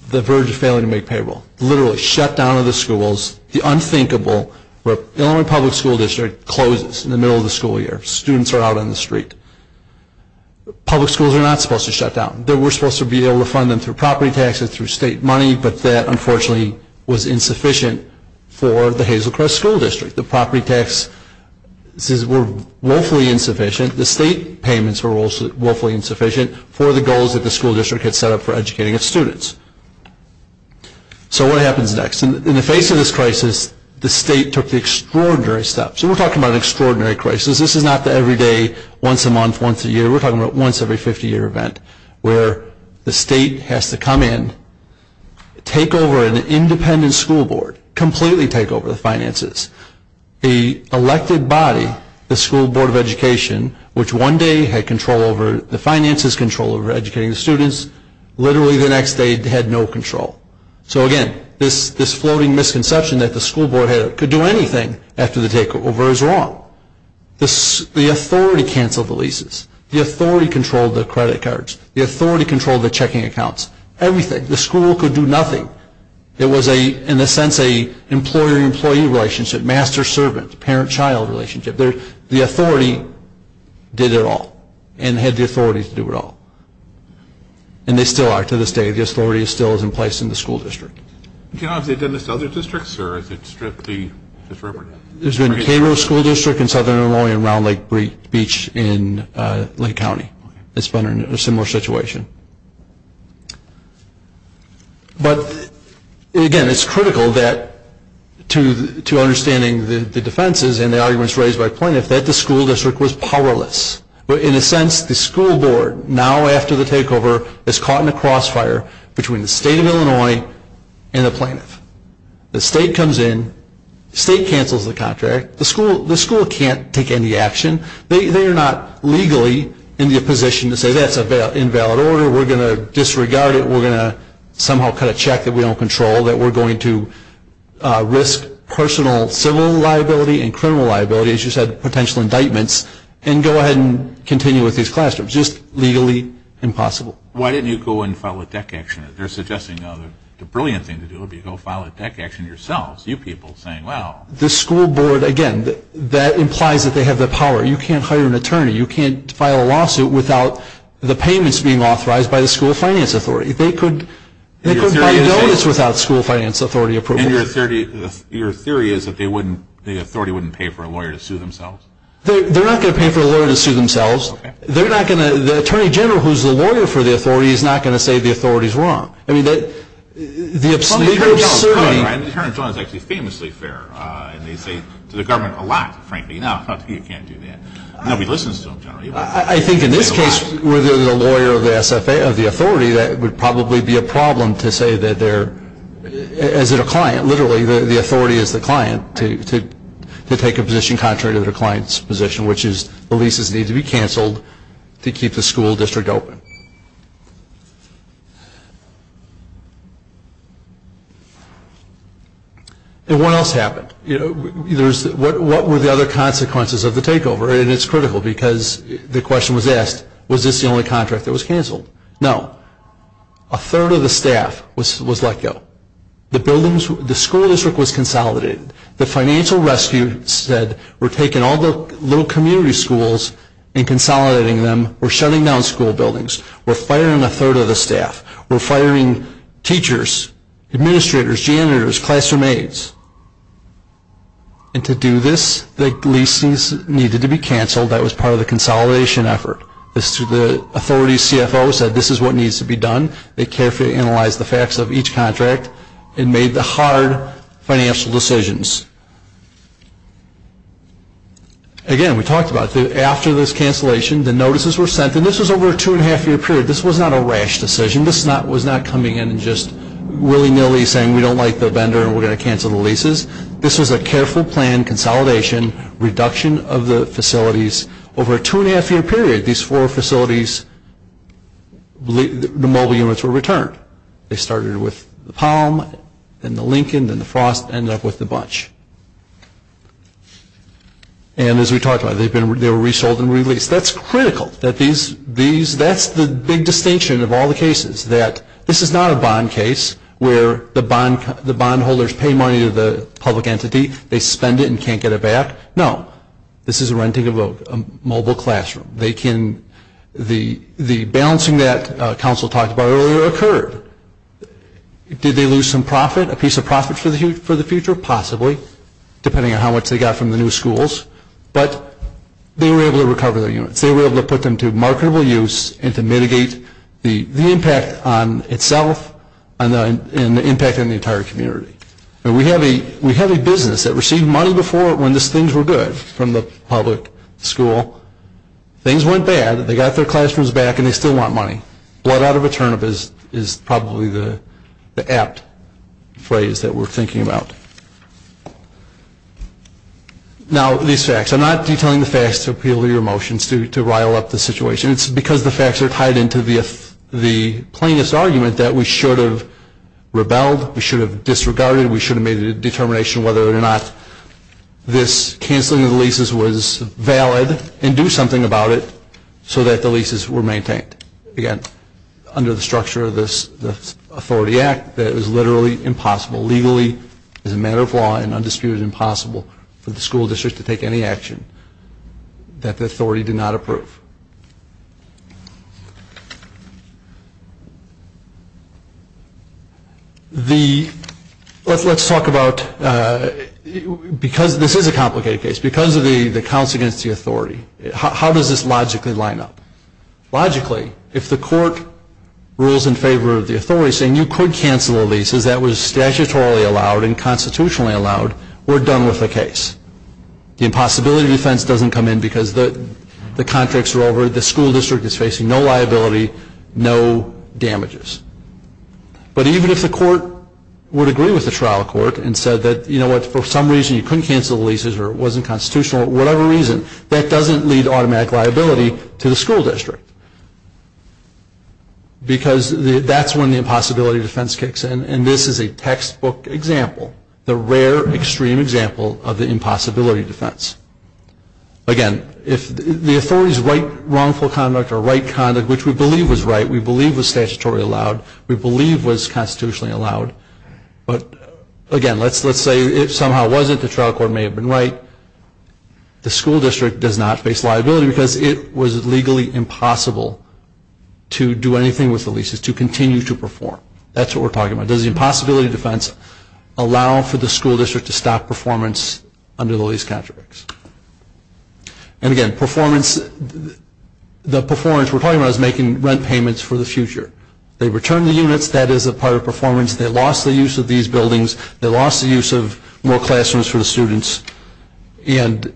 the verge of failing to make payroll. The literally shutdown of the schools, the unthinkable where the Illinois Public School District closes in the middle of the school year. Students are out on the street. Public schools are not supposed to shut down. They were supposed to be able to fund them through property taxes, through state money, but that unfortunately was insufficient for the Hazelcrest School District. The property taxes were woefully insufficient. The state payments were woefully insufficient for the goals that the school district had set up for educating its students. So what happens next? In the face of this crisis, the state took the extraordinary steps. And we're talking about an extraordinary crisis. This is not the every day, once a month, once a year. We're talking about once every 50-year event where the state has to come in, take over an independent school board, completely take over the finances. The elected body, the School Board of Education, which one day had control over the finances, control over educating the students, literally the next day had no control. So again, this floating misconception that the school board could do anything after the takeover is wrong. The authority canceled the leases. The authority controlled the credit cards. The authority controlled the checking accounts. Everything. The school could do nothing. It was, in a sense, an employer-employee relationship, master-servant, parent-child relationship. The authority did it all and had the authority to do it all. And they still are to this day. The authority still is in place in the school district. Have they done this to other districts or has it stripped the district? There's been a K-Row school district in southern Illinois and Round Lake Beach in Lake County. It's been a similar situation. But, again, it's critical to understanding the defenses and the arguments raised by plaintiffs that the school district was powerless. In a sense, the school board, now after the takeover, is caught in a crossfire between the state of Illinois and the plaintiff. The state comes in. The state cancels the contract. The school can't take any action. They are not legally in the position to say that's an invalid order. We're going to disregard it. We're going to somehow cut a check that we don't control, that we're going to risk personal civil liability and criminal liability, as you said, potential indictments, and go ahead and continue with these classrooms. Just legally impossible. Why didn't you go and file a DEC action? They're suggesting now the brilliant thing to do would be to go file a DEC action yourselves, you people saying, well. The school board, again, that implies that they have the power. You can't hire an attorney. You can't file a lawsuit without the payments being authorized by the school finance authority. They couldn't provide notice without school finance authority approval. And your theory is that the authority wouldn't pay for a lawyer to sue themselves? They're not going to pay for a lawyer to sue themselves. The attorney general who's the lawyer for the authority is not going to say the authority is wrong. I mean, the obscenity of suing. The attorney general is actually famously fair, and they say to the government a lot, frankly. No, you can't do that. Nobody listens to them generally. I think in this case where they're the lawyer of the SFA, of the authority, that would probably be a problem to say that they're, as a client, literally, the authority is the client, to take a position contrary to the client's position, which is the leases need to be canceled to keep the school district open. And what else happened? What were the other consequences of the takeover? And it's critical because the question was asked, was this the only contract that was canceled? No. A third of the staff was let go. The school district was consolidated. The financial rescue said we're taking all the little community schools and consolidating them. We're shutting down school buildings. We're firing a third of the staff. We're firing teachers, administrators, janitors, classroom aides. And to do this, the leases needed to be canceled. That was part of the consolidation effort. The authority CFO said this is what needs to be done. They carefully analyzed the facts of each contract and made the hard financial decisions. Again, we talked about it. After this cancellation, the notices were sent. And this was over a two-and-a-half-year period. This was not a rash decision. This was not coming in and just willy-nilly saying we don't like the vendor and we're going to cancel the leases. This was a careful plan, consolidation, reduction of the facilities. Over a two-and-a-half-year period, these four facilities, the mobile units were returned. They started with the Palm, then the Lincoln, then the Frost, ended up with the Bunch. And as we talked about, they were resold and released. That's critical. That's the big distinction of all the cases, that this is not a bond case where the bondholders pay money to the public entity, they spend it and can't get it back. No. This is renting a mobile classroom. The balancing that Council talked about earlier occurred. Did they lose some profit, a piece of profit for the future? Possibly, depending on how much they got from the new schools. But they were able to recover their units. They were able to put them to marketable use and to mitigate the impact on itself and the impact on the entire community. We have a business that received money before when these things were good from the public school. Things went bad. They got their classrooms back and they still want money. Blood out of a turnip is probably the apt phrase that we're thinking about. Now, these facts. I'm not detailing the facts to appeal to your emotions, to rile up the situation. It's because the facts are tied into the plainest argument that we should have rebelled, we should have disregarded, we should have made a determination whether or not this canceling of the leases was valid and do something about it so that the leases were maintained. Again, under the structure of this Authority Act, that it was literally impossible, legally as a matter of law and undisputed impossible, for the school district to take any action that the authority did not approve. Let's talk about, because this is a complicated case, because of the counts against the authority, how does this logically line up? Logically, if the court rules in favor of the authority saying you could cancel the leases, that was statutorily allowed and constitutionally allowed, we're done with the case. The impossibility defense doesn't come in because the contracts are over, the school district is facing no liability, no damages. But even if the court would agree with the trial court and said that, you know what, for some reason you couldn't cancel the leases or it wasn't constitutional, whatever reason, that doesn't lead to automatic liability to the school district. Because that's when the impossibility defense kicks in, and this is a textbook example, the rare extreme example of the impossibility defense. Again, if the authority's right wrongful conduct or right conduct, which we believe was right, we believe was statutorily allowed, we believe was constitutionally allowed, but again, let's say it somehow wasn't, the trial court may have been right, the school district does not face liability because it was legally impossible to do anything with the leases, to continue to perform. That's what we're talking about. Does the impossibility defense allow for the school district to stop performance under the lease contracts? And again, performance, the performance we're talking about is making rent payments for the future. They return the units, that is a part of performance, they lost the use of these buildings, they lost the use of more classrooms for the students, and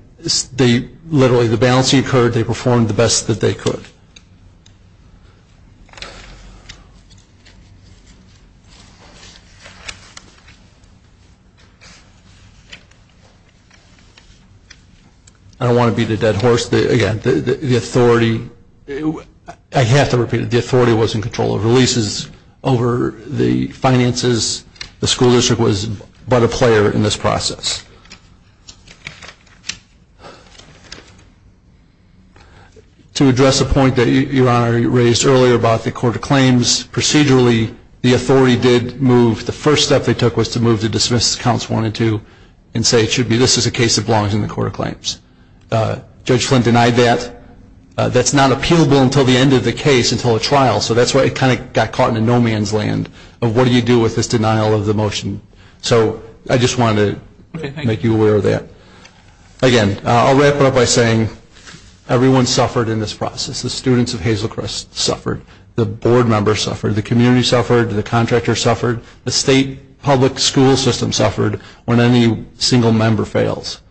literally the balancing occurred, they performed the best that they could. I don't want to beat a dead horse. Again, the authority, I have to repeat it, the authority was in control of the leases, over the finances, the school district was but a player in this process. To address a point that Your Honor raised earlier about the court of claims procedurally, the authority did move, the first step they took was to move to dismiss counts one and two and say it should be, this is a case that belongs in the court of claims. Judge Flynn denied that. That's not appealable until the end of the case, until a trial, so that's why it kind of got caught in a no man's land of what do you do with this denial of the motion. So I just wanted to make you aware of that. Again, I'll wrap it up by saying everyone suffered in this process. The students of Hazelcrest suffered. The board members suffered. The community suffered. The contractor suffered. The state public school system suffered when any single member fails.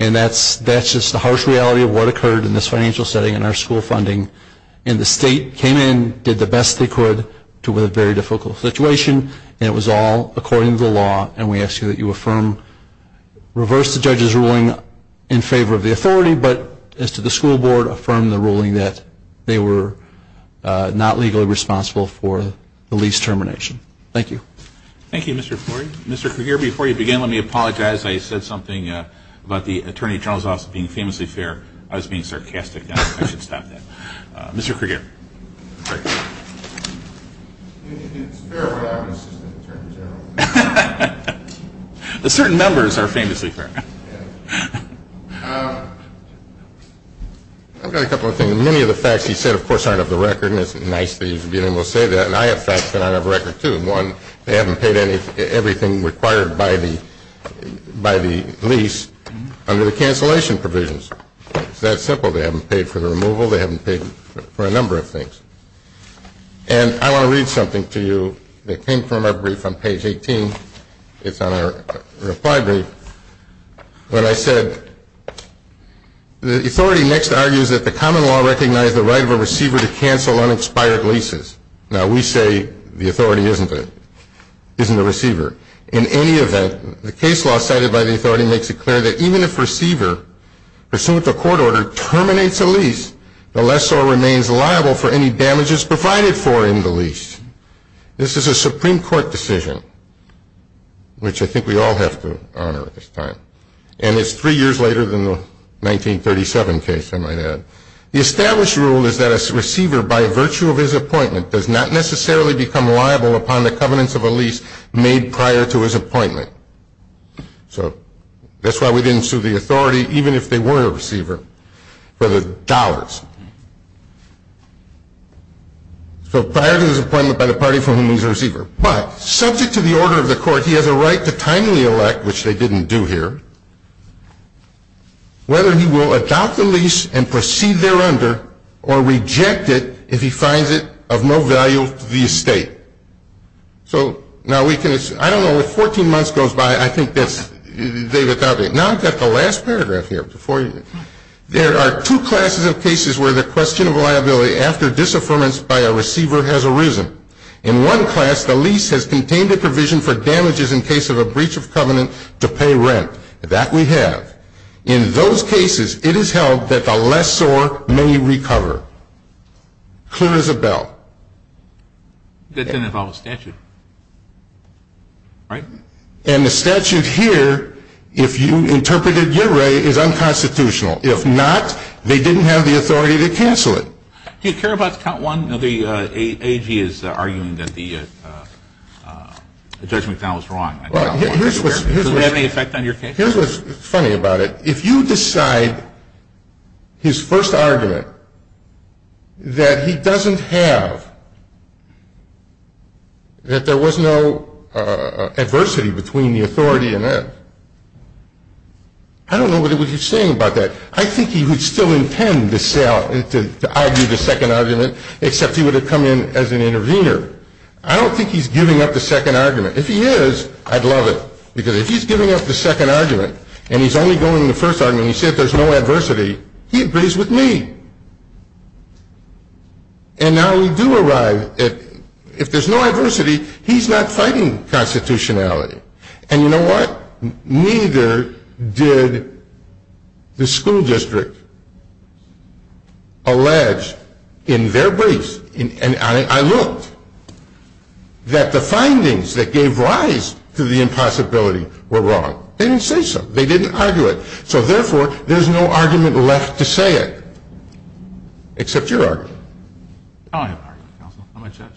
And that's just the harsh reality of what occurred in this financial setting and our school funding. And the state came in, did the best they could to a very difficult situation, and it was all according to the law. And we ask you that you affirm, reverse the judge's ruling in favor of the authority, but as to the school board, affirm the ruling that they were not legally responsible for the lease termination. Thank you. Thank you, Mr. Flory. Mr. Cahir, before you begin, let me apologize. I said something about the Attorney General's Office being famously fair. I was being sarcastic. I should stop that. Mr. Cahir. It's fair what happens to the Attorney General. Certain members are famously fair. I've got a couple of things. Many of the facts you said, of course, aren't of the record, and it's nice that you're being able to say that. And I have facts that aren't of the record, too. One, they haven't paid everything required by the lease under the cancellation provisions. It's that simple. They haven't paid for the removal. They haven't paid for a number of things. And I want to read something to you that came from our brief on page 18. It's on our reply brief. When I said, the authority next argues that the common law recognized the right of a receiver to cancel unexpired leases. Now, we say the authority isn't the receiver. In any event, the case law cited by the authority makes it clear that even if a receiver, pursuant to court order, terminates a lease, the lessor remains liable for any damages provided for in the lease. This is a Supreme Court decision, which I think we all have to honor at this time. And it's three years later than the 1937 case, I might add. The established rule is that a receiver, by virtue of his appointment, does not necessarily become liable upon the covenants of a lease made prior to his appointment. So that's why we didn't sue the authority, even if they were a receiver, for the dollars. So prior to his appointment by the party from whom he's a receiver. But subject to the order of the court, he has a right to timely elect, which they didn't do here, whether he will adopt the lease and proceed thereunder, or reject it if he finds it of no value to the estate. So now we can, I don't know if 14 months goes by, I think that's, David, now I've got the last paragraph here. There are two classes of cases where the question of liability after disaffirmance by a receiver has arisen. In one class, the lease has contained a provision for damages in case of a breach of covenant to pay rent. That we have. In those cases, it is held that the lessor may recover. Clear as a bell. That didn't involve a statute, right? And the statute here, if you interpreted it your way, is unconstitutional. If not, they didn't have the authority to cancel it. Do you care about count one? The AG is arguing that the judgment found was wrong. Does it have any effect on your case? Here's what's funny about it. If you decide his first argument that he doesn't have, that there was no adversity between the authority and that, I don't know what you're saying about that. I think he would still intend to argue the second argument, except he would have come in as an intervener. I don't think he's giving up the second argument. If he is, I'd love it. Because if he's giving up the second argument, and he's only going to the first argument, and he says there's no adversity, he agrees with me. And now we do arrive at if there's no adversity, he's not fighting constitutionality. And you know what? Neither did the school district allege in their briefs, and I looked, that the findings that gave rise to the impossibility were wrong. They didn't say so. They didn't argue it. So, therefore, there's no argument left to say it, except your argument. I don't have an argument, counsel. I'm a judge.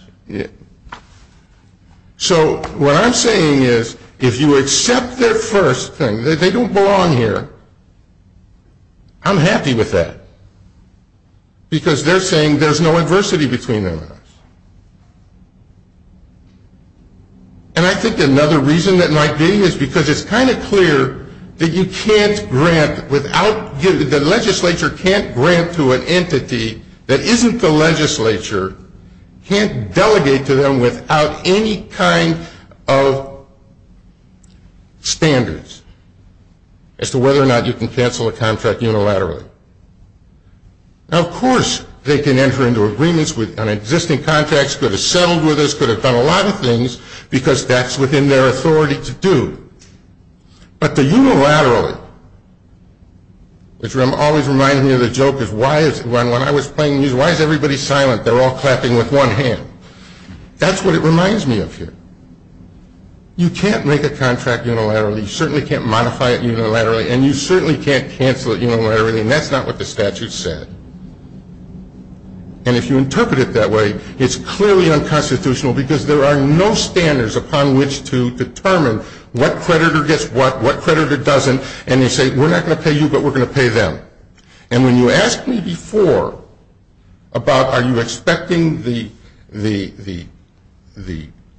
So what I'm saying is if you accept their first thing, that they don't belong here, I'm happy with that. Because they're saying there's no adversity between them and us. And I think another reason that might be is because it's kind of clear that you can't grant without, the legislature can't grant to an entity that isn't the legislature, can't delegate to them without any kind of standards as to whether or not you can cancel a contract unilaterally. Now, of course, they can enter into agreements on existing contracts, could have settled with us, could have done a lot of things, because that's within their authority to do. But the unilaterally, which always reminds me of the joke, is when I was playing music, why is everybody silent? They're all clapping with one hand. That's what it reminds me of here. You can't make a contract unilaterally. You certainly can't modify it unilaterally. And you certainly can't cancel it unilaterally. And that's not what the statute said. And if you interpret it that way, it's clearly unconstitutional, because there are no standards upon which to determine what creditor gets what, what creditor doesn't. And they say, we're not going to pay you, but we're going to pay them. And when you asked me before about are you expecting the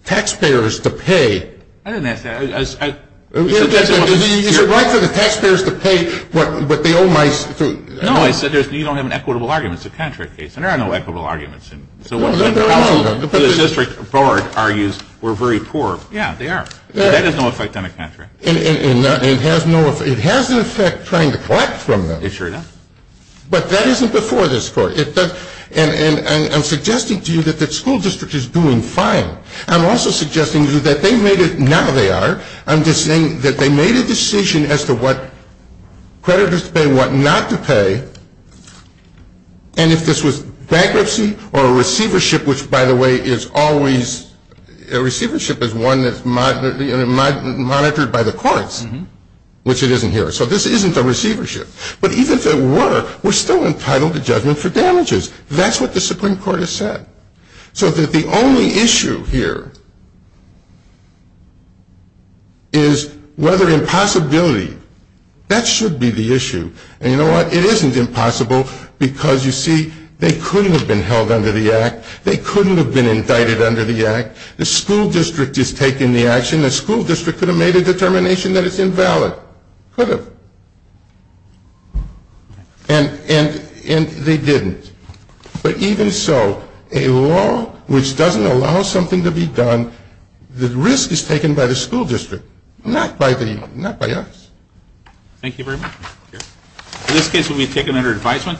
taxpayers to pay, I didn't ask that. Is it right for the taxpayers to pay what they owe my student? No, I said you don't have an equitable argument. It's a contract case. And there are no equitable arguments. So what the district board argues, we're very poor. Yeah, they are. That has no effect on a contract. It has an effect trying to collect from them. It sure does. But that isn't before this court. And I'm suggesting to you that the school district is doing fine. I'm also suggesting to you that they made it, now they are, I'm just saying that they made a decision as to what creditors to pay, what not to pay, and if this was bankruptcy or receivership, which, by the way, is always, receivership is one that's monitored by the courts, which it isn't here. So this isn't a receivership. But even if it were, we're still entitled to judgment for damages. That's what the Supreme Court has said. So that the only issue here is whether impossibility, that should be the issue. And you know what? It isn't impossible because, you see, they couldn't have been held under the act. They couldn't have been indicted under the act. The school district is taking the action. The school district could have made a determination that it's invalid. Could have. And they didn't. But even so, a law which doesn't allow something to be done, the risk is taken by the school district, not by us. Thank you very much. In this case, it will be taken under advisement.